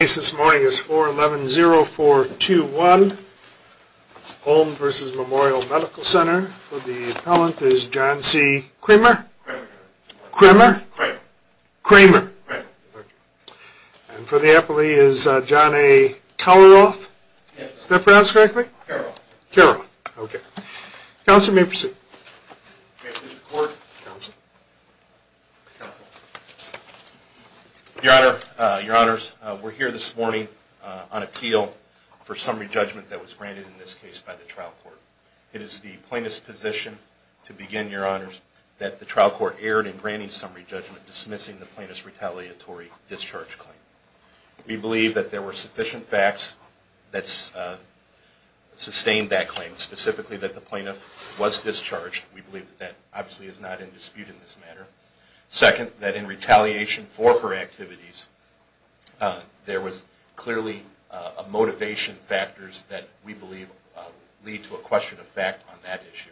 The case this morning is 411-0421 Holm v. Memorial Medical Center. For the appellant is John C. Kramer. And for the appellee is John A. Kalaroff. Kalaroff. Kalaroff, okay. Counsel, you may proceed. May I please report? Counsel. Counsel. Your Honor, we're here this morning on appeal for summary judgment that was granted in this case by the trial court. It is the plaintiff's position to begin, Your Honors, that the trial court erred in granting summary judgment dismissing the plaintiff's retaliatory discharge claim. We believe that there were sufficient facts that sustained that claim, specifically that the plaintiff was discharged. We believe that that obviously is not in dispute in this matter. Second, that in retaliation for her activities, there was clearly motivation factors that we believe lead to a question of fact on that issue.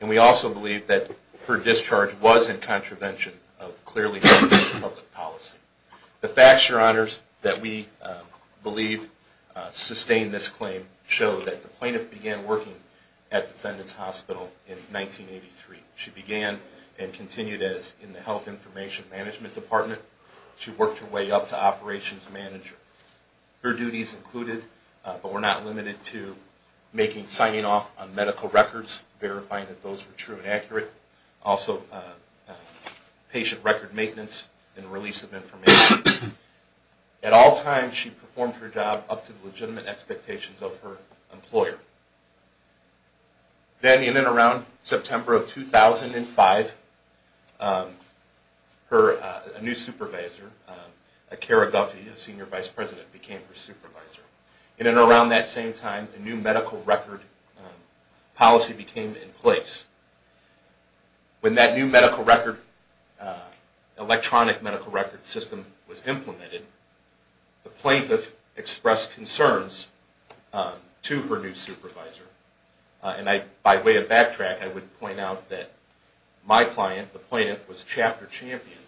And we also believe that her discharge was in contravention of clearly stated public policy. The facts, Your Honors, that we believe sustained this claim show that the plaintiff began working at Defendant's Hospital in 1983. She began and continued as in the Health Information Management Department. She worked her way up to Operations Manager. Her duties included, but were not limited to, making signing off on medical records, verifying that those were true and accurate. Also, patient record maintenance and release of information. At all times, she performed her job up to the legitimate expectations of her employer. Then, in and around September of 2005, a new supervisor, Kara Guffey, the Senior Vice President, became her supervisor. In and around that same time, a new medical record policy became in place. When that new electronic medical record system was implemented, the plaintiff expressed concerns to her new supervisor. By way of backtrack, I would point out that my client, the plaintiff, was Chapter Champion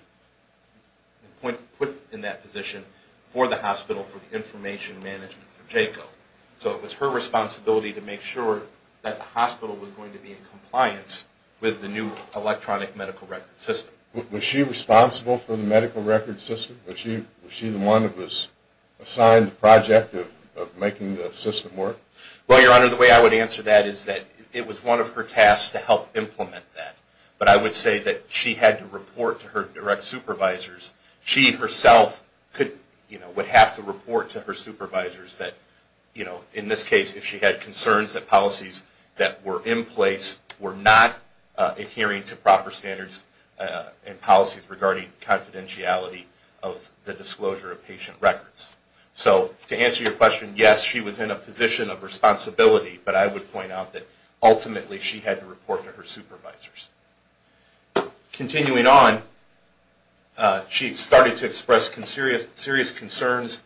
and put in that position for the hospital for the information management for JACO. So it was her responsibility to make sure that the hospital was going to be in compliance with the new electronic medical record system. Was she responsible for the medical record system? Was she the one that was assigned the project of making the system work? Well, Your Honor, the way I would answer that is that it was one of her tasks to help implement that. But I would say that she had to report to her direct supervisors. She herself would have to report to her supervisors that, in this case, if she had concerns that policies that were in place were not adhering to proper standards and policies regarding confidentiality of the disclosure of patient records. So to answer your question, yes, she was in a position of responsibility, but I would point out that ultimately she had to report to her supervisors. Continuing on, she started to express serious concerns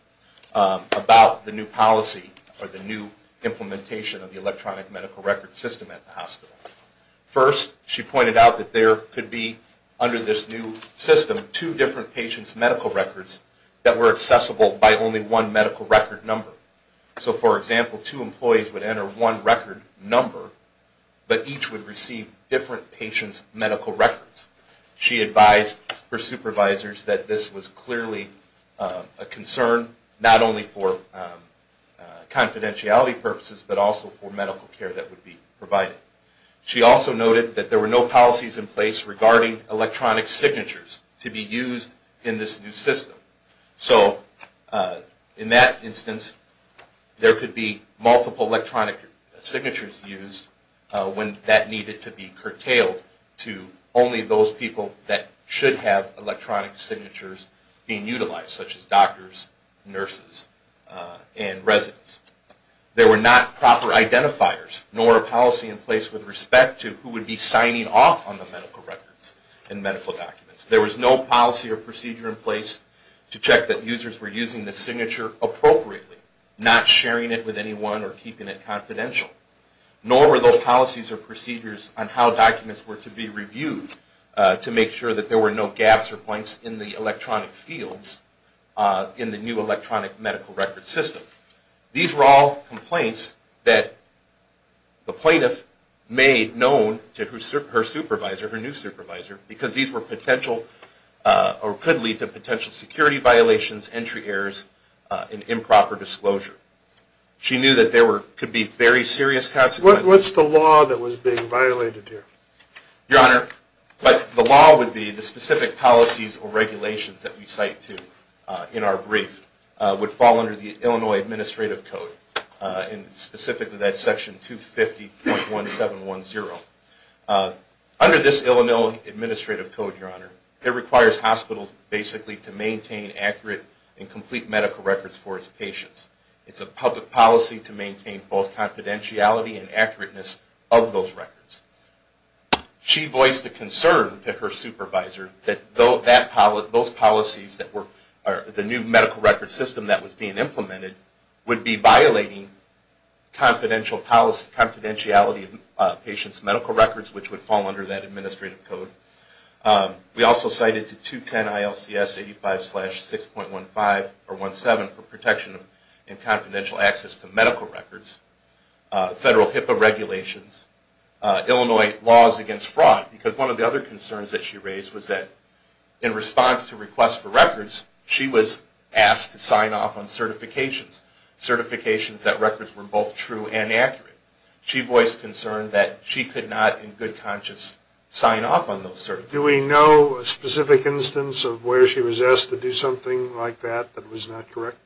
about the new policy or the new implementation of the electronic medical record system at the hospital. First, she pointed out that there could be, under this new system, two different patients' medical records that were accessible by only one medical record number. So, for example, two employees would enter one record number, but each would receive different patients' medical records. She advised her supervisors that this was clearly a concern, not only for confidentiality purposes, but also for medical care that would be provided. She also noted that there were no policies in place regarding electronic signatures to be used in this new system. So, in that instance, there could be multiple electronic signatures used when that needed to be curtailed to only those people that should have electronic signatures being utilized, such as doctors, nurses, and residents. There were not proper identifiers, nor a policy in place with respect to who would be signing off on the medical records and medical documents. There was no policy or procedure in place to check that users were using the signature appropriately, not sharing it with anyone or keeping it confidential. Nor were those policies or procedures on how documents were to be reviewed to make sure that there were no gaps or points in the electronic fields in the new electronic medical record system. These were all complaints that the plaintiff made known to her supervisor, her new supervisor, because these were potential or could lead to potential security violations, entry errors, and improper disclosure. She knew that there could be very serious consequences. What's the law that was being violated here? Your Honor, the law would be the specific policies or regulations that we cite to in our brief would fall under the Illinois Administrative Code, specifically that Section 250.1710. Under this Illinois Administrative Code, Your Honor, it requires hospitals basically to maintain accurate and complete medical records for its patients. It's a public policy to maintain both confidentiality and accurateness of those records. She voiced a concern to her supervisor that those policies, the new medical record system that was being implemented, would be violating confidentiality of patients' medical records, which would fall under that Administrative Code. We also cited 210 ILCS 85-6.17 for protection and confidential access to medical records, federal HIPAA regulations, Illinois laws against fraud, because one of the other concerns that she raised was that in response to requests for records, she was asked to sign off on certifications, certifications that records were both true and accurate. She voiced concern that she could not in good conscience sign off on those certifications. Do we know a specific instance of where she was asked to do something like that that was not correct?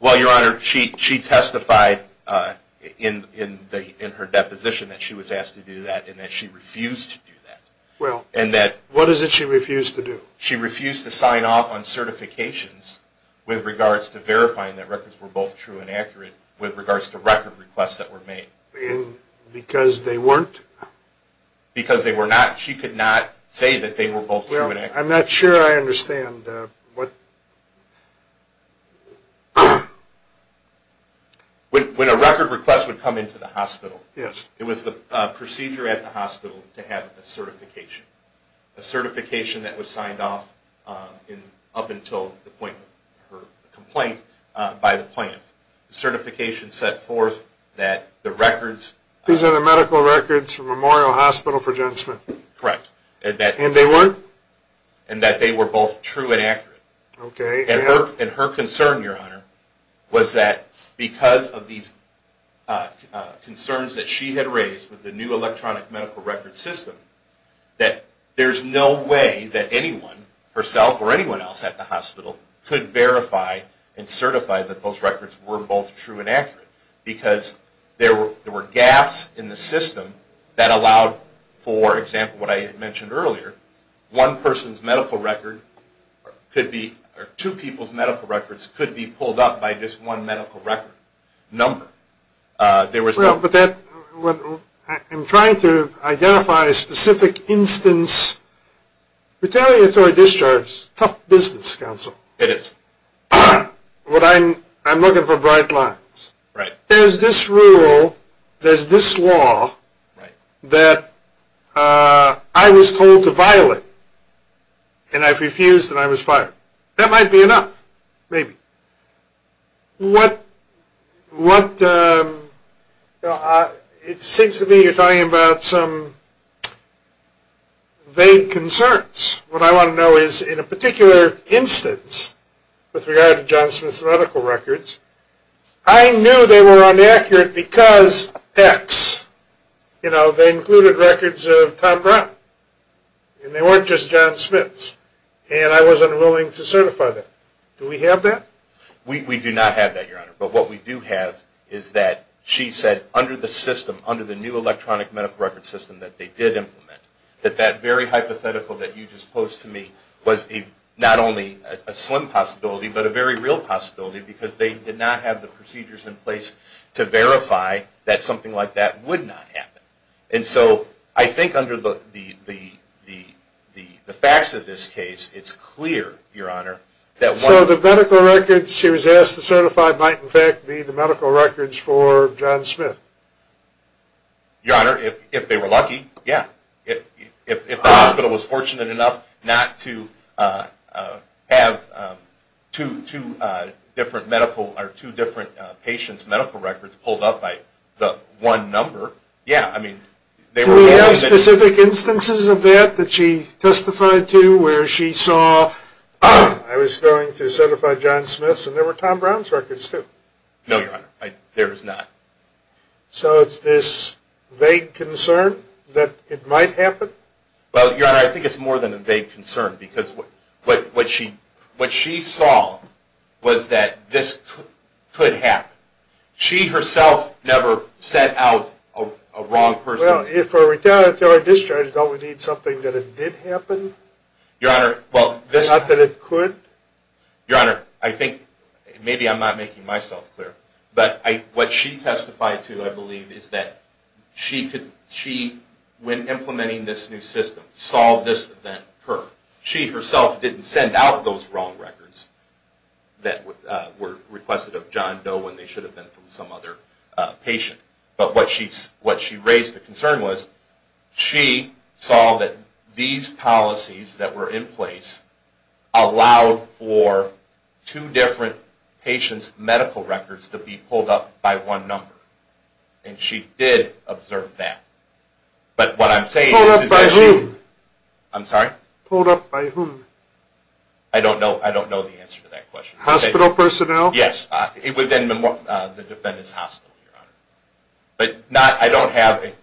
Well, Your Honor, she testified in her deposition that she was asked to do that and that she refused to do that. Well, what is it she refused to do? She refused to sign off on certifications with regards to verifying that records were both true and accurate with regards to record requests that were made. And because they weren't? Because they were not. She could not say that they were both true and accurate. Well, I'm not sure I understand what... When a record request would come into the hospital, it was the procedure at the hospital to have a certification, a certification that was signed off up until the point of her complaint by the plaintiff. The certification set forth that the records... These are the medical records from Memorial Hospital for Jensman. Correct. And they weren't? And that they were both true and accurate. Okay. And her concern, Your Honor, was that because of these concerns that she had raised with the new electronic medical record system, that there's no way that anyone, herself or anyone else at the hospital, could verify and certify that those records were both true and accurate. Because there were gaps in the system that allowed, for example, what I had mentioned earlier, one person's medical record could be... or two people's medical records could be pulled up by just one medical record number. Well, but that... I'm trying to identify a specific instance. Retaliatory discharges, tough business, counsel. It is. I'm looking for bright lines. Right. There's this rule, there's this law that I was told to violate, and I refused and I was fired. That might be enough, maybe. What... It seems to me you're talking about some vague concerns. What I want to know is, in a particular instance, with regard to John Smith's medical records, I knew they were inaccurate because X. You know, they included records of Tom Brown. And they weren't just John Smith's. And I wasn't willing to certify that. Do we have that? We do not have that, Your Honor. But what we do have is that she said under the system, under the new electronic medical record system that they did implement, that that very hypothetical that you just posed to me was not only a slim possibility, but a very real possibility because they did not have the procedures in place to verify that something like that would not happen. And so I think under the facts of this case, it's clear, Your Honor, that one... So the medical records she was asked to certify might, in fact, be the medical records for John Smith? Your Honor, if they were lucky, yeah. If the hospital was fortunate enough not to have two different medical or two different patients' medical records pulled up by the one number, yeah. I mean, they were... Are there specific instances of that that she testified to where she saw, I was going to certify John Smith's, and there were Tom Brown's records too? No, Your Honor. There is not. So it's this vague concern that it might happen? Well, Your Honor, I think it's more than a vague concern because what she saw was that this could happen. She herself never set out a wrong person. Well, if a retardant is discharged, don't we need something that it did happen? Your Honor, well... Not that it could? Your Honor, I think, maybe I'm not making myself clear, but what she testified to, I believe, is that she, when implementing this new system, saw this event occur. She herself didn't send out those wrong records that were requested of John Doe when they should have been from some other patient. But what she raised the concern was she saw that these policies that were in place allowed for two different patients' medical records to be pulled up by one number, and she did observe that. But what I'm saying is... Pulled up by whom? I'm sorry? Pulled up by whom? I don't know the answer to that question. Hospital personnel? Yes, within the defendant's hospital, Your Honor.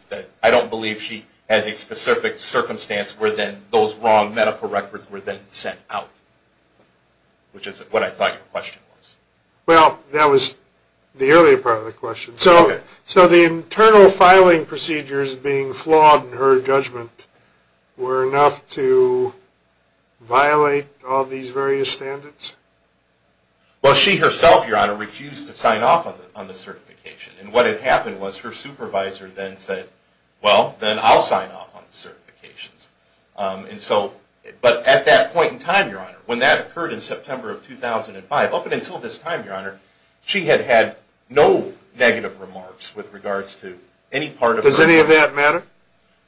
But I don't believe she has a specific circumstance where then those wrong medical records were then sent out, which is what I thought your question was. Well, that was the earlier part of the question. So the internal filing procedures being flawed in her judgment were enough to violate all these various standards? Well, she herself, Your Honor, refused to sign off on the certification. And what had happened was her supervisor then said, well, then I'll sign off on the certifications. But at that point in time, Your Honor, when that occurred in September of 2005, up until this time, Your Honor, she had had no negative remarks with regards to any part of her... Does any of that matter?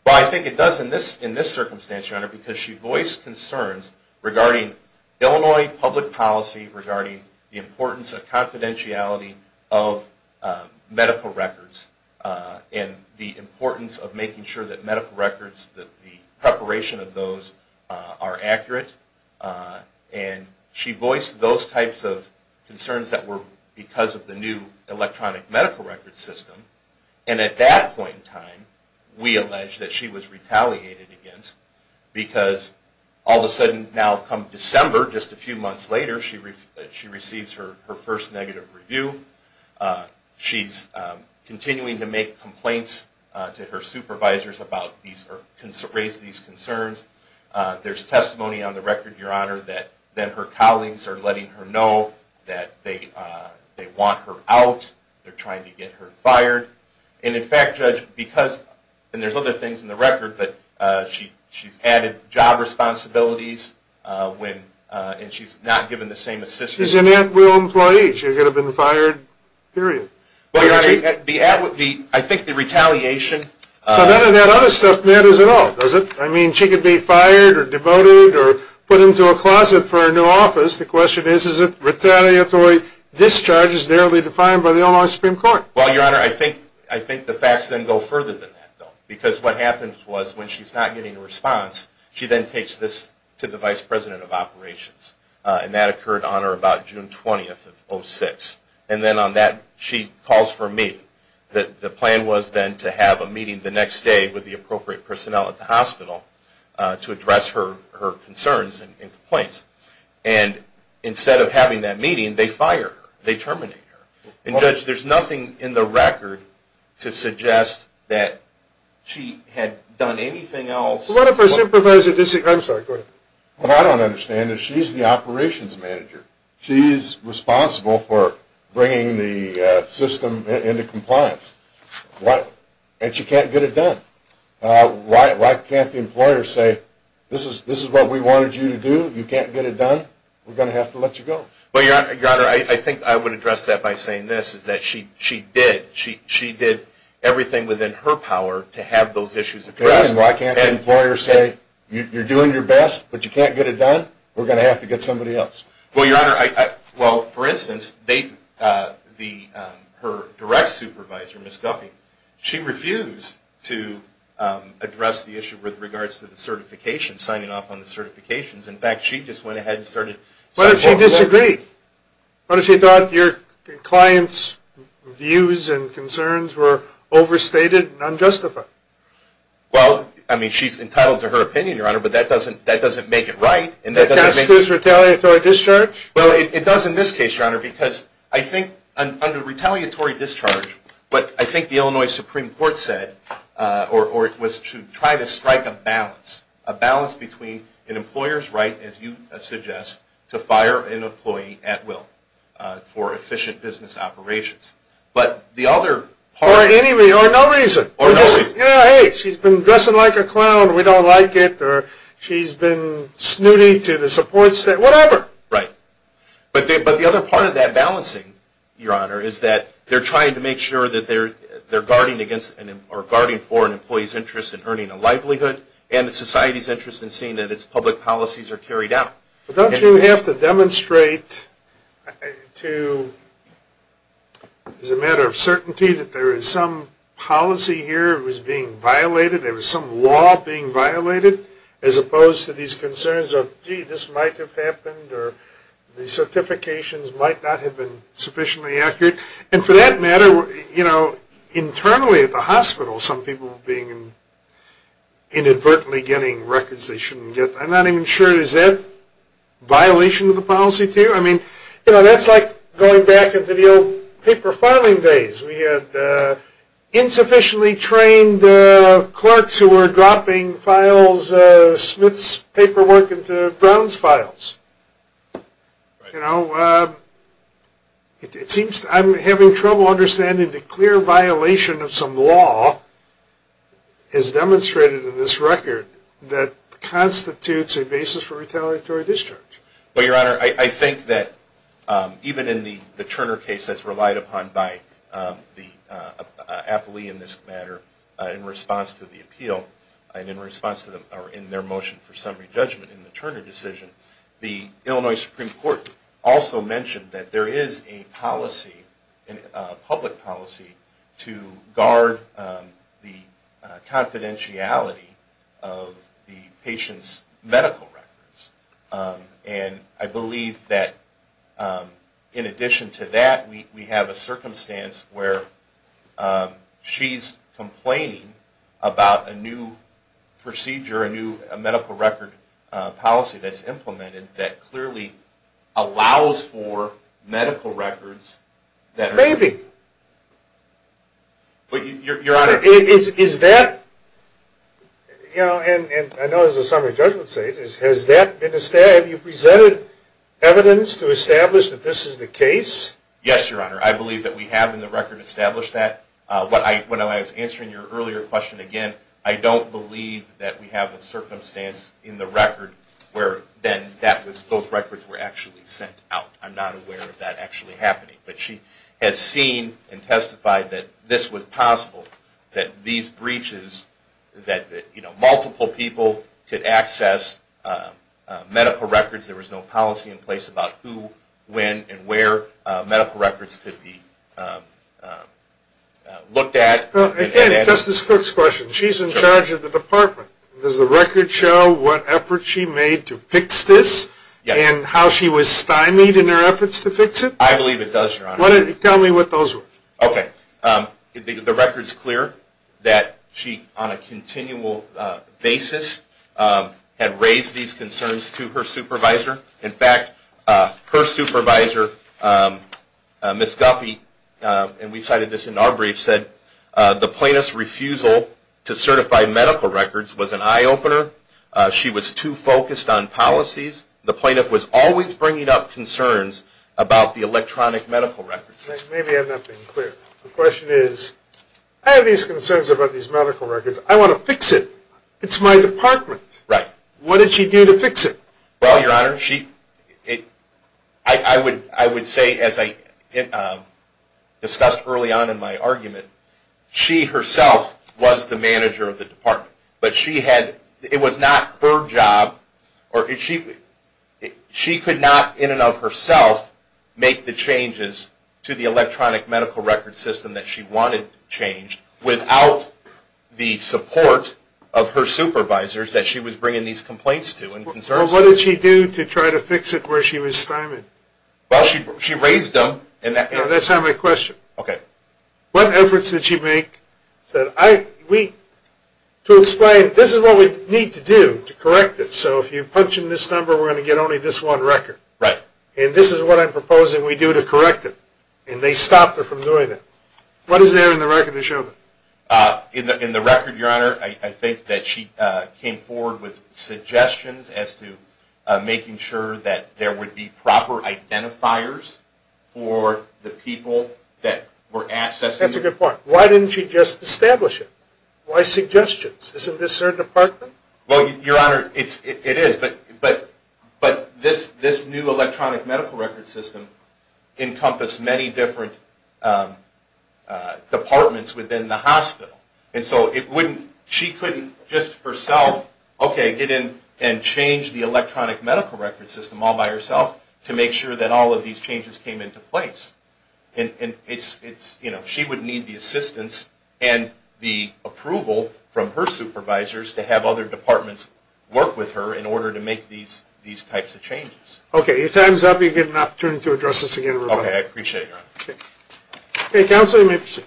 Well, I think it does in this circumstance, Your Honor, because she voiced concerns regarding Illinois public policy, regarding the importance of confidentiality of medical records and the importance of making sure that medical records, that the preparation of those are accurate. And she voiced those types of concerns that were because of the new electronic medical record system. And at that point in time, we allege that she was retaliated against because all of a sudden, now come December, just a few months later, she receives her first negative review. She's continuing to make complaints to her supervisors about these or raise these concerns. There's testimony on the record, Your Honor, that then her colleagues are letting her know that they want her out. They're trying to get her fired. And, in fact, Judge, because... And there's other things in the record, but she's added job responsibilities and she's not given the same assistance... She's an Antwill employee. She could have been fired, period. I think the retaliation... So none of that other stuff matters at all, does it? I mean, she could be fired or demoted or put into a closet for her new office. The question is, is it retaliatory discharges narrowly defined by the Illinois Supreme Court? Well, Your Honor, I think the facts then go further than that, though, because what happens was when she's not getting a response, she then takes this to the Vice President of Operations. And that occurred on or about June 20th of 2006. And then on that, she calls for a meeting. The plan was then to have a meeting the next day with the appropriate personnel at the hospital to address her concerns and complaints. And instead of having that meeting, they fire her. They terminate her. And, Judge, there's nothing in the record to suggest that she had done anything else... What if her supervisor... I'm sorry, go ahead. What I don't understand is she's the operations manager. She's responsible for bringing the system into compliance. And she can't get it done. Why can't the employer say, This is what we wanted you to do. You can't get it done. We're going to have to let you go. Well, Your Honor, I think I would address that by saying this, is that she did everything within her power to have those issues addressed. And why can't the employer say, You're doing your best, but you can't get it done? We're going to have to get somebody else. Well, Your Honor, well, for instance, her direct supervisor, Ms. Guffey, she refused to address the issue with regards to the certification, signing off on the certifications. In fact, she just went ahead and started... What if she disagreed? What if she thought your client's views and concerns were overstated and unjustified? Well, I mean, she's entitled to her opinion, Your Honor, but that doesn't make it right. Does that exclude retaliatory discharge? Well, it does in this case, Your Honor, because I think under retaliatory discharge, but I think the Illinois Supreme Court said, or was to try to strike a balance, a balance between an employer's right, as you suggest, to fire an employee at will for efficient business operations. But the other part... Or no reason. Or no reason. Hey, she's been dressing like a clown. We don't like it. She's been snooty to the support staff. Whatever. Right. But the other part of that balancing, Your Honor, is that they're trying to make sure that they're guarding against or guarding for an employee's interest in earning a livelihood and the society's interest in seeing that its public policies are carried out. But don't you have to demonstrate to, as a matter of certainty, that there is some policy here that was being violated, there was some law being violated, as opposed to these concerns of, gee, this might have happened, or the certifications might not have been sufficiently accurate. And for that matter, you know, internally at the hospital, some people being inadvertently getting records they shouldn't get. I'm not even sure. Is that a violation of the policy to you? I mean, you know, that's like going back into the old paper filing days. We had insufficiently trained clerks who were dropping files, Smith's paperwork into Brown's files. You know, it seems I'm having trouble understanding the clear violation of some law as demonstrated in this record that constitutes a basis for retaliatory discharge. Well, Your Honor, I think that even in the Turner case that's relied upon by the matter in response to the appeal, and in their motion for summary judgment in the Turner decision, the Illinois Supreme Court also mentioned that there is a policy, a public policy to guard the confidentiality of the patient's medical records. And I believe that in addition to that, we have a circumstance where she's complaining about a new procedure, a new medical record policy that's implemented that clearly allows for medical records. Maybe. Your Honor. Is that, you know, and I know there's a summary judgment stage. Has that been established? Have you presented evidence to establish that this is the case? Yes, Your Honor. I believe that we have in the record established that. When I was answering your earlier question again, I don't believe that we have a circumstance in the record where then that was, both records were actually sent out. I'm not aware of that actually happening. But she has seen and testified that this was possible, that these breaches that, you know, multiple people could access medical records, there was no policy in place about who, when and where medical records could be looked at. Again, Justice Cook's question. She's in charge of the department. Does the record show what efforts she made to fix this? Yes. And how she was stymied in her efforts to fix it? I believe it does, Your Honor. Tell me what those were. Okay. The record's clear that she, on a continual basis, had raised these concerns to her supervisor. In fact, her supervisor, Ms. Guffey, and we cited this in our brief, said the plaintiff's refusal to certify medical records was an eye-opener. She was too focused on policies. The plaintiff was always bringing up concerns about the electronic medical records. Maybe I'm not being clear. The question is, I have these concerns about these medical records. I want to fix it. It's my department. Right. What did she do to fix it? Well, Your Honor, I would say, as I discussed early on in my argument, she herself was the manager of the department. It was not her job. She could not, in and of herself, make the changes to the electronic medical record system that she wanted changed without the support of her supervisors that she was bringing these complaints to and concerns. Well, what did she do to try to fix it where she was stymied? Well, she raised them. That's not my question. Okay. What efforts did she make? To explain, this is what we need to do to correct it. So if you punch in this number, we're going to get only this one record. Right. And this is what I'm proposing we do to correct it. And they stopped her from doing that. What is there in the record to show that? In the record, Your Honor, I think that she came forward with suggestions as to making sure that there would be proper identifiers for the people that were accessing it. That's a good point. Why didn't she just establish it? Why suggestions? Isn't this her department? Well, Your Honor, it is. But this new electronic medical record system encompassed many different departments within the hospital. And so she couldn't just herself, okay, get in and change the electronic medical record system all by herself to make sure that all of these changes came into place. She would need the assistance and the approval from her supervisors to have other departments work with her in order to make these types of changes. Okay. Your time is up. You get an opportunity to address this again. Okay. I appreciate it, Your Honor. Okay. Counsel, you may proceed.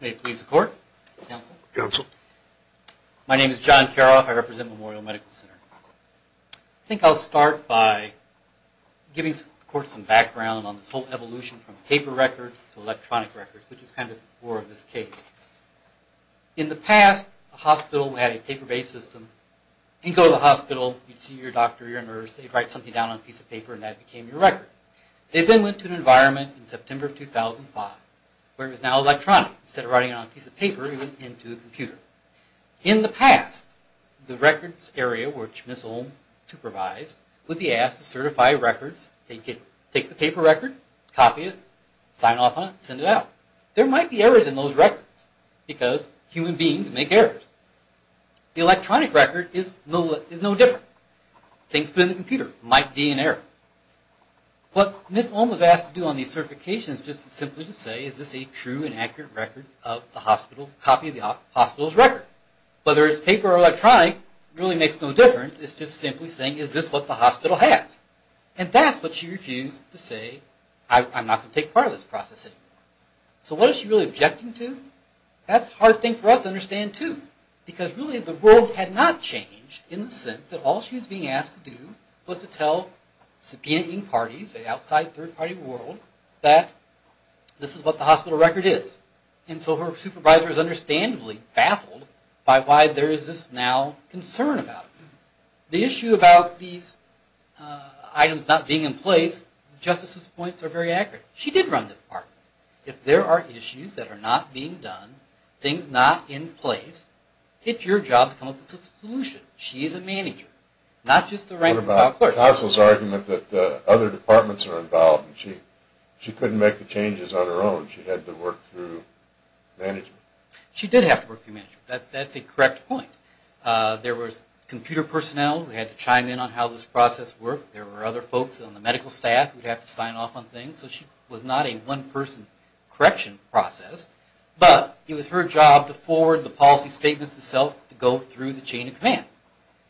May it please the Court. Counsel. Counsel. My name is John Karoff. I represent Memorial Medical Center. I think I'll start by giving the Court some background on this whole evolution from paper records to electronic records, which is kind of more of this case. In the past, a hospital had a paper-based system. You'd go to the hospital. You'd see your doctor, your nurse. They'd write something down on a piece of paper, and that became your record. They then went to an environment in September of 2005 where it was now electronic. Instead of writing it on a piece of paper, it went into a computer. In the past, the records area, which Ms. Olm supervised, would be asked to certify records. They'd take the paper record, copy it, sign off on it, and send it out. There might be errors in those records because human beings make errors. The electronic record is no different. Things put in the computer might be an error. What Ms. Olm was asked to do on these certifications is just simply to say, is this a true and accurate copy of the hospital's record? Whether it's paper or electronic, it really makes no difference. It's just simply saying, is this what the hospital has? That's what she refused to say, I'm not going to take part of this process anymore. What is she really objecting to? That's a hard thing for us to understand, too, because really the world had not changed in the sense that all she was being asked to do was to tell subpoenaed parties, outside third-party world, that this is what the hospital record is. And so her supervisor is understandably baffled by why there is this now concern about it. The issue about these items not being in place, Justice's points are very accurate. She did run the department. If there are issues that are not being done, things not in place, it's your job to come up with a solution. She is a manager, not just a rank-and-file clerk. But there's also the argument that other departments are involved, and she couldn't make the changes on her own. She had to work through management. She did have to work through management. That's a correct point. There was computer personnel who had to chime in on how this process worked. There were other folks on the medical staff who would have to sign off on things. So she was not a one-person correction process, but it was her job to forward the policy statements itself to go through the chain of command.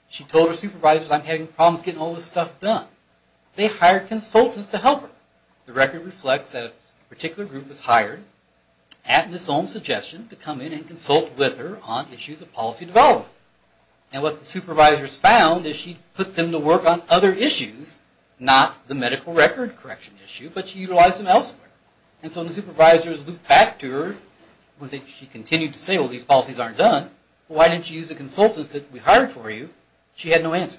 She told her supervisors, I'm having problems getting all this stuff done. They hired consultants to help her. The record reflects that a particular group was hired at Ms. Ohlm's suggestion to come in and consult with her on issues of policy development. And what the supervisors found is she put them to work on other issues, not the medical record correction issue, but she utilized them elsewhere. And so when the supervisors looked back to her, she continued to say, well, these policies aren't done. Why didn't you use the consultants that we hired for you? She had no answer.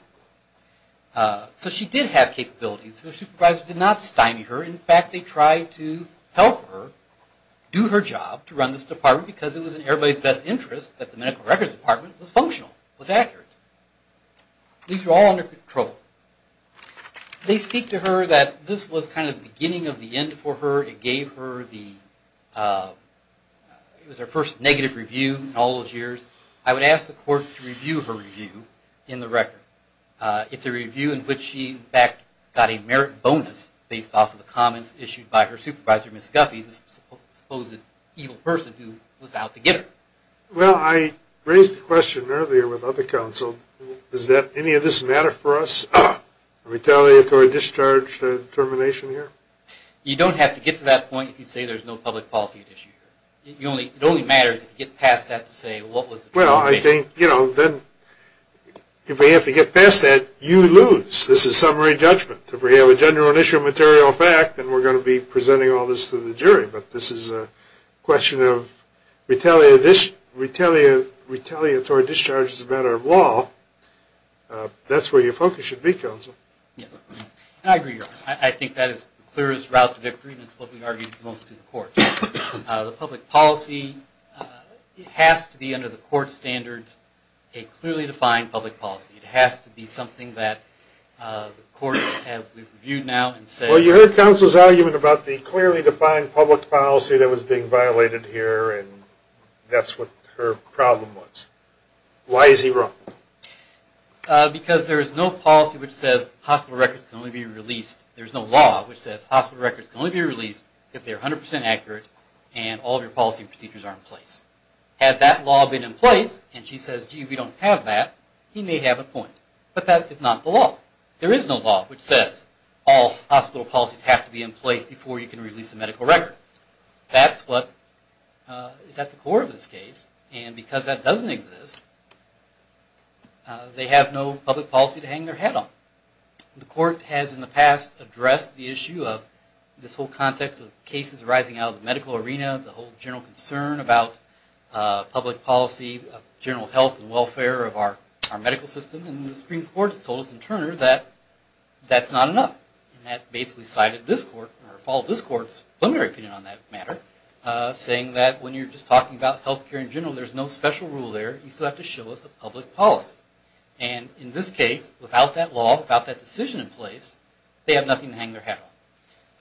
So she did have capabilities. The supervisors did not stymie her. In fact, they tried to help her do her job to run this department because it was in everybody's best interest that the medical records department was functional, was accurate. These were all under control. They speak to her that this was kind of the beginning of the end for her. It gave her the first negative review in all those years. I would ask the court to review her review in the record. It's a review in which she, in fact, got a merit bonus based off of the comments issued by her supervisor, Ms. Guffey, this supposed evil person who was out to get her. Well, I raised the question earlier with other counsels. Does any of this matter for us, retaliatory discharge termination here? You don't have to get to that point if you say there's no public policy at issue here. It only matters if you get past that to say what was the true intent. Well, I think, you know, then if we have to get past that, you lose. This is summary judgment. If we have a general initial material fact, then we're going to be presenting all this to the jury. But this is a question of retaliatory discharge as a matter of law. That's where your focus should be, counsel. I agree. I think that is the clearest route to victory, and it's what we argued most to the court. The public policy has to be under the court standards a clearly defined public policy. It has to be something that the courts have reviewed now and said. Well, you heard counsel's argument about the clearly defined public policy that was being violated here, and that's what her problem was. Why is he wrong? Because there is no policy which says hospital records can only be released. There's no law which says hospital records can only be released if they're 100% accurate and all of your policy procedures are in place. Had that law been in place, and she says, gee, we don't have that, he may have a point. But that is not the law. There is no law which says all hospital policies have to be in place before you can release a medical record. That's what is at the core of this case. And because that doesn't exist, they have no public policy to hang their head on. The court has in the past addressed the issue of this whole context of cases rising out of the medical arena, the whole general concern about public policy, general health and welfare of our medical system, and the Supreme Court has told us in Turner that that's not enough. And that basically cited this court, or followed this court's preliminary opinion on that matter, saying that when you're just talking about health care in general, there's no special rule there. You still have to show us a public policy. And in this case, without that law, without that decision in place, they have nothing to hang their head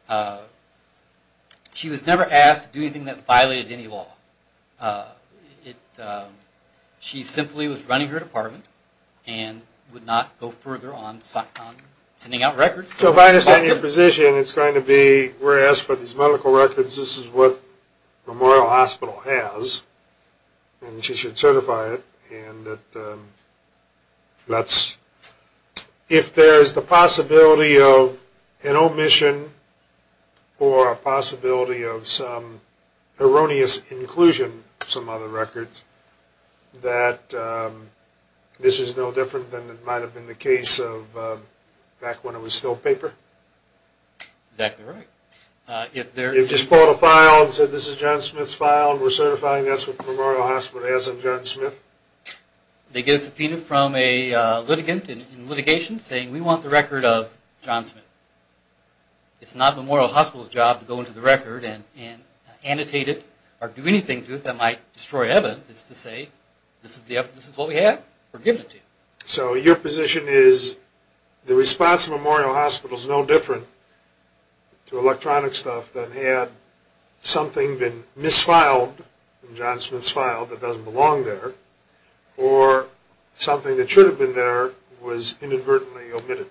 on. She was never asked to do anything that violated any law. She simply was running her department and would not go further on sending out records. So if I understand your position, it's going to be we're asked for these medical records, this is what Memorial Hospital has, and she should certify it. If there is the possibility of an omission or a possibility of some erroneous inclusion of some other records, that this is no different than it might have been the case back when it was still paper? Exactly right. If they just pulled a file and said this is John Smith's file and we're certifying it, that's what Memorial Hospital has on John Smith? They get a subpoena from a litigant in litigation saying we want the record of John Smith. It's not Memorial Hospital's job to go into the record and annotate it or do anything to it that might destroy evidence, it's to say this is what we have, we're giving it to you. So your position is the response of Memorial Hospital is no different to electronic stuff than had something been misfiled in John Smith's file that doesn't belong there or something that should have been there was inadvertently omitted?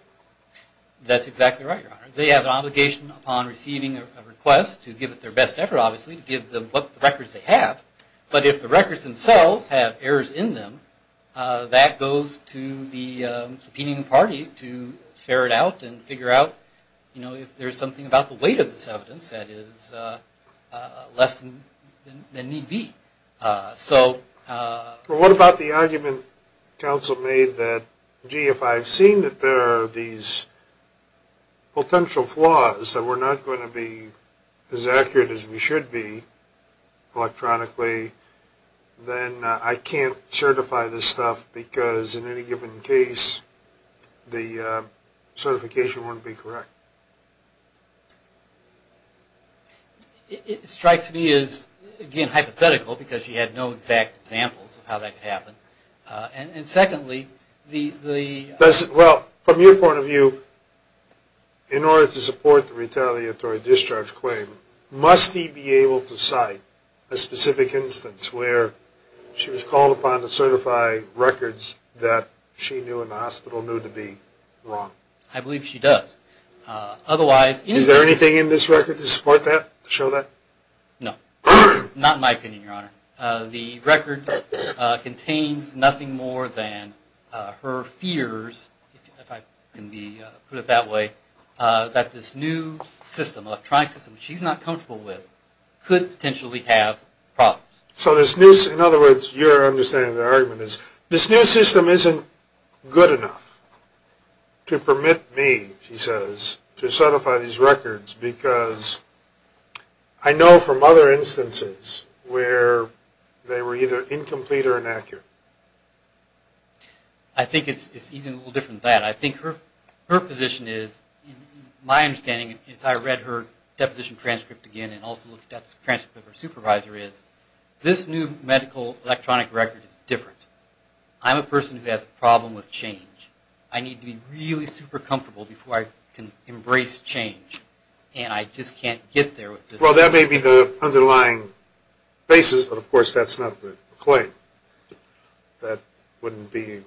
That's exactly right, Your Honor. They have an obligation upon receiving a request to give it their best effort, obviously, to give them the records they have, but if the records themselves have errors in them, that goes to the subpoenaing party to ferret out and figure out if there's something about the weight of this evidence that is less than need be. What about the argument counsel made that, gee, if I've seen that there are these potential flaws that we're not going to be as accurate as we should be electronically, then I can't certify this stuff because in any given case, the certification wouldn't be correct? It strikes me as, again, hypothetical because you had no exact examples of how that could happen. And secondly, the... Well, from your point of view, in order to support the retaliatory discharge claim, must he be able to cite a specific instance where she was called upon to certify records that she knew and the hospital knew to be wrong? I believe she does. Otherwise... Is there anything in this record to support that, to show that? No. Not in my opinion, Your Honor. The record contains nothing more than her fears, if I can put it that way, that this new system, electronic system, which she's not comfortable with, could potentially have problems. So in other words, your understanding of the argument is, this new system isn't good enough to permit me, she says, to certify these records because I know from other instances where they were either incomplete or inaccurate. I think it's even a little different than that. I think her position is, my understanding, as I read her deposition transcript again and also looked at the transcript of her supervisor is, this new medical electronic record is different. I'm a person who has a problem with change. I need to be really super comfortable before I can embrace change, and I just can't get there. Well, that may be the underlying basis, but, of course, that's not the claim. That wouldn't be a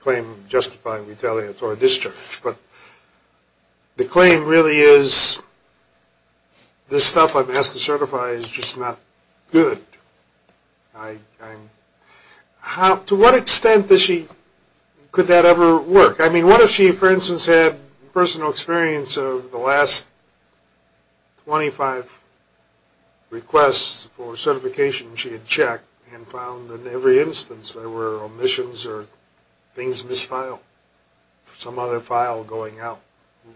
claim justifying retaliatory discharge. But the claim really is, this stuff I'm asked to certify is just not good. To what extent could that ever work? I mean, what if she, for instance, had personal experience of the last 25 requests for certification she had checked and found in every instance there were omissions or things misfiled, some other file going out.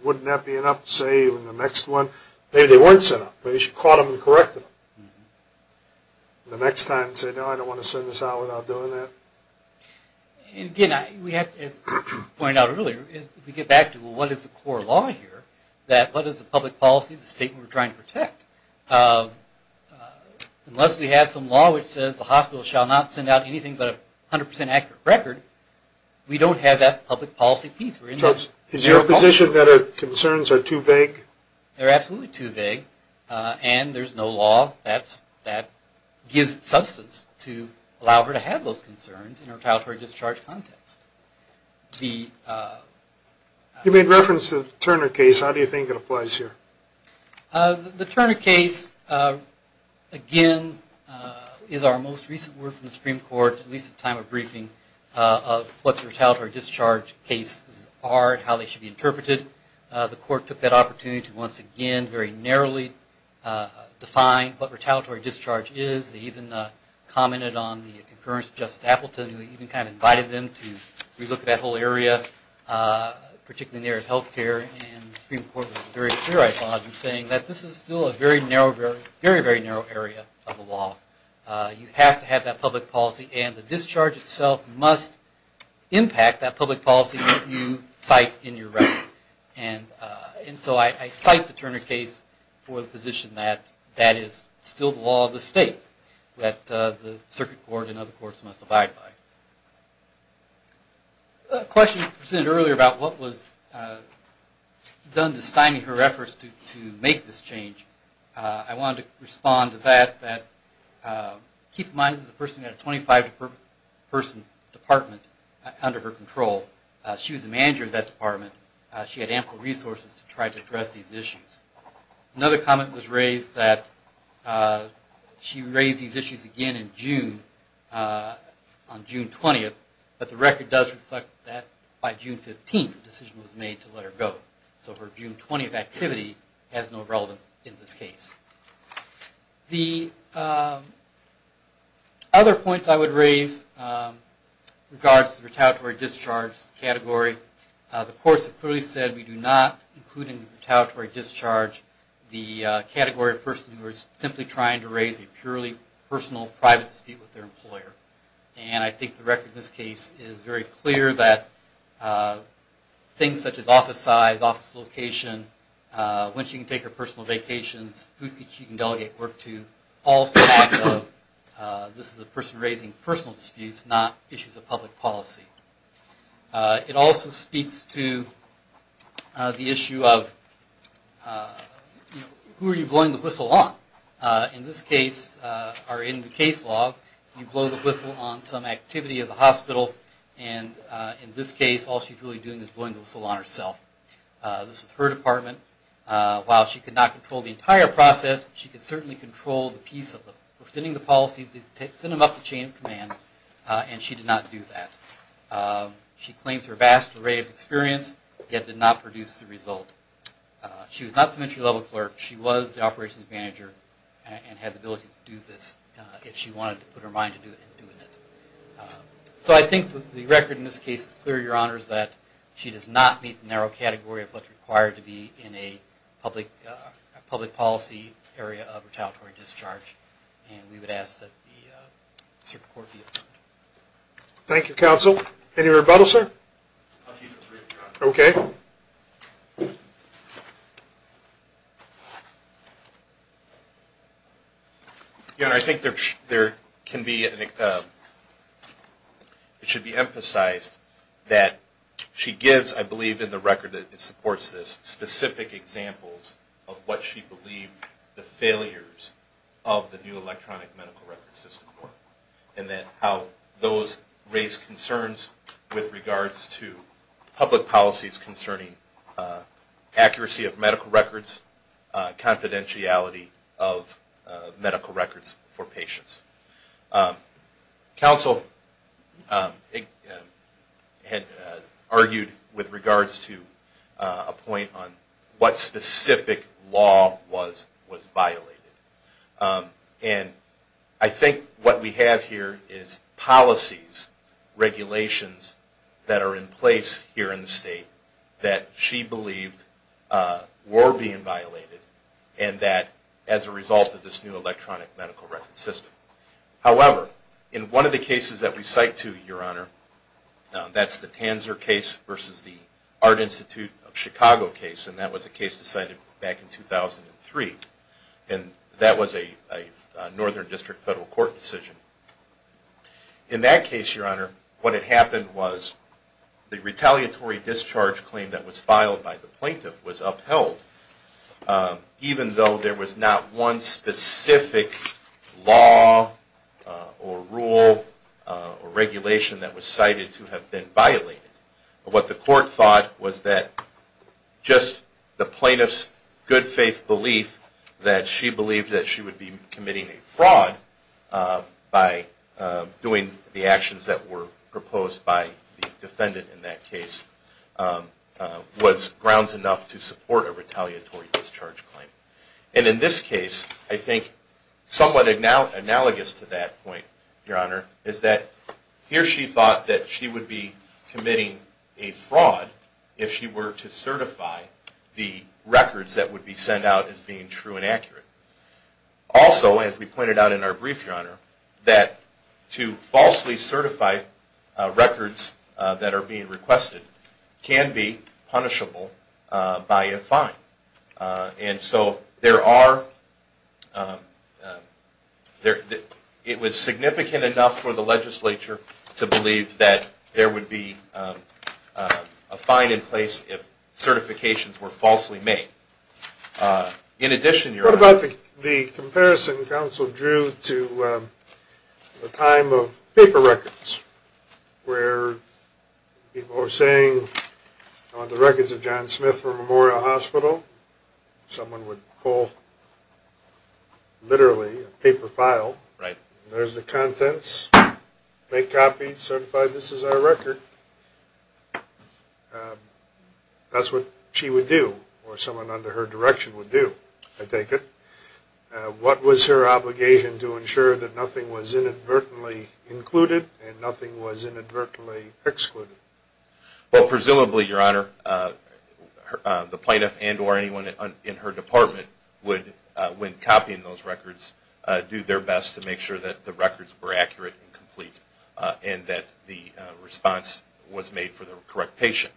Wouldn't that be enough to say in the next one, maybe they weren't sent out. Maybe she caught them and corrected them. The next time, say, no, I don't want to send this out without doing that. Again, as we pointed out earlier, if we get back to what is the core law here, that what is the public policy statement we're trying to protect? Unless we have some law which says the hospital shall not send out anything but a 100% accurate record, we don't have that public policy piece. Is your position that her concerns are too vague? They're absolutely too vague. And there's no law that gives substance to allow her to have those concerns in a retaliatory discharge context. You made reference to the Turner case. How do you think it applies here? The Turner case, again, is our most recent word from the Supreme Court, at least at the time of briefing, of what the retaliatory discharge cases are and how they should be interpreted. The court took that opportunity to once again very narrowly define what retaliatory discharge is. They even commented on the occurrence of Justice Appleton, who even kind of invited them to relook at that whole area, particularly in the area of health care. And the Supreme Court was very clear, I thought, in saying that this is still a very, very narrow area of the law. You have to have that public policy, and the discharge itself must impact that public policy that you cite in your record. And so I cite the Turner case for the position that that is still the law of the state that the circuit court and other courts must abide by. A question presented earlier about what was done to stymie her efforts to make this change. I wanted to respond to that. Keep in mind this is a person who had a 25-person department under her control. She was the manager of that department. She had ample resources to try to address these issues. Another comment was raised that she raised these issues again in June, on June 20th, but the record does reflect that by June 15th the decision was made to let her go. So her June 20th activity has no relevance in this case. The other points I would raise regards to the retaliatory discharge category. The courts have clearly said we do not include in the retaliatory discharge the category of a person who is simply trying to raise a purely personal, private dispute with their employer. And I think the record in this case is very clear that things such as office location, when she can take her personal vacations, who she can delegate work to, all stand out. This is a person raising personal disputes, not issues of public policy. It also speaks to the issue of who are you blowing the whistle on. In this case, or in the case law, you blow the whistle on some activity of the hospital, and in this case all she's really doing is blowing the whistle on herself. This was her department. While she could not control the entire process, she could certainly control the piece of sending the policies, send them up the chain of command, and she did not do that. She claims her vast array of experience, yet did not produce the result. She was not some entry-level clerk. She was the operations manager and had the ability to do this if she wanted to put her mind to doing it. So I think the record in this case is clear, Your Honor, is that she does not meet the narrow category of what's required to be in a public policy area of retaliatory discharge, and we would ask that the Supreme Court be adjourned. Thank you, counsel. Any rebuttal, sir? I'll keep it brief, Your Honor. Okay. Your Honor, I think there can be, it should be emphasized that she gives, I believe in the record that supports this, specific examples of what she believed the failures of the new electronic medical record system were, and that how those raised concerns with regards to public policies concerning accuracy of medical records, confidentiality of medical records for patients. Counsel argued with regards to a point on what specific law was violated, and I think what we have here is policies, regulations that are in place here in the state that she believed were being violated, and that as a result of this new electronic medical record system. However, in one of the cases that we cite to, Your Honor, that's the Tanzer case versus the Art Institute of Chicago case, and that was a case decided back in 2003, and that was a Northern District Federal Court decision. In that case, Your Honor, what had happened was the retaliatory discharge claim that was filed by the plaintiff was upheld, even though there was not one specific law or rule or regulation that was cited to have been violated. What the court thought was that just the plaintiff's good faith belief that she would be committing a fraud by doing the actions that were proposed by the defendant in that case was grounds enough to support a retaliatory discharge claim. And in this case, I think somewhat analogous to that point, Your Honor, is that here she thought that she would be committing a fraud if she were to do that. Also, as we pointed out in our brief, Your Honor, that to falsely certify records that are being requested can be punishable by a fine. And so it was significant enough for the legislature to believe that there would be a fine in place if certifications were falsely made. In addition, Your Honor... What about the comparison counsel drew to the time of paper records, where people were saying, I want the records of John Smith from Memorial Hospital. Someone would pull, literally, a paper file. Right. There's the contents, make copies, certify this is our record. That's what she would do, or someone under her direction would do, I take it. What was her obligation to ensure that nothing was inadvertently included and nothing was inadvertently excluded? Well, presumably, Your Honor, the plaintiff and or anyone in her department would, when copying those records, do their best to make sure that the records were accurate and complete and that the response was made for the correct patient.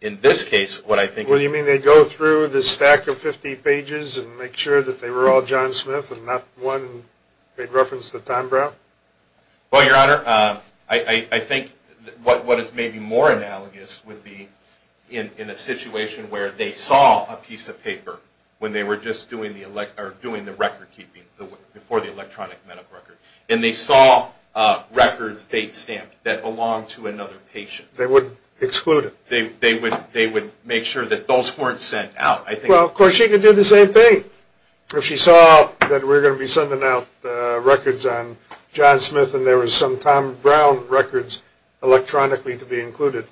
In this case, what I think... What do you mean? They go through the stack of 50 pages and make sure that they were all John Smith and not one made reference to Tom Brown? Well, Your Honor, I think what is maybe more analogous would be in a situation where they saw a piece of paper when they were just doing the record keeping before the electronic medical record, and they saw records they'd stamped that belonged to another patient. They would exclude it? They would make sure that those weren't sent out. Well, of course, she could do the same thing. If she saw that we're going to be sending out records on John Smith and there was some Tom Brown records electronically to be included,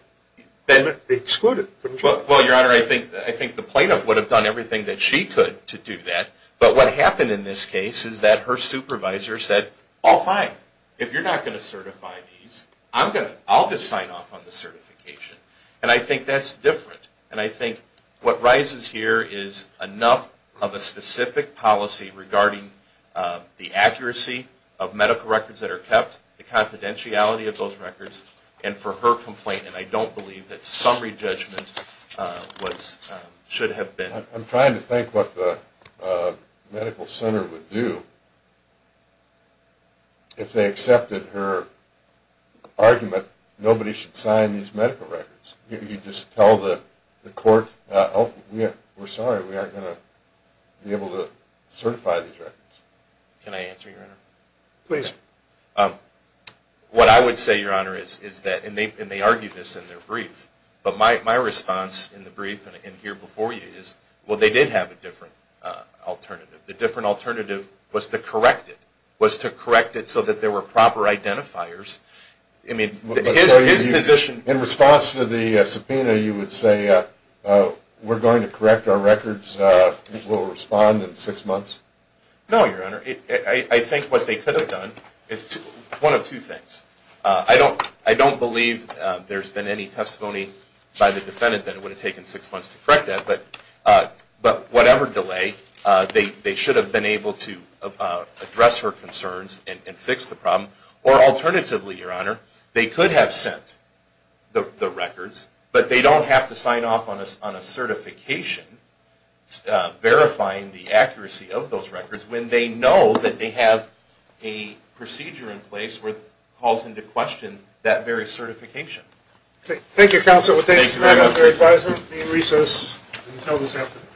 they'd exclude it, couldn't you? Well, Your Honor, I think the plaintiff would have done everything that she could to do that. But what happened in this case is that her supervisor said, Oh, fine. If you're not going to certify these, I'll just sign off on the certification. And I think that's different. And I think what rises here is enough of a specific policy regarding the accuracy of medical records that are kept, the confidentiality of those records, and for her complaint. And I don't believe that summary judgment should have been. I'm trying to think what the medical center would do if they accepted her argument nobody should sign these medical records. You just tell the court, Oh, we're sorry. We aren't going to be able to certify these records. Can I answer, Your Honor? Please. What I would say, Your Honor, is that, and they argued this in their brief, but my response in the brief and here before you is, well, they did have a different alternative. The different alternative was to correct it, was to correct it so that there were proper identifiers. In response to the subpoena, you would say, we're going to correct our records, we'll respond in six months? No, Your Honor. I think what they could have done is one of two things. I don't believe there's been any testimony by the defendant that it would have taken six months to correct that. But whatever delay, they should have been able to address her concerns and fix the problem. Or alternatively, Your Honor, they could have sent the records, but they don't have to sign off on a certification verifying the accuracy of those records when they know that they have a procedure in place where it calls into question that very certification. Okay. Thank you, Counselor. Thank you, Your Honor. Thank you for your advisement. Be in recess until this afternoon.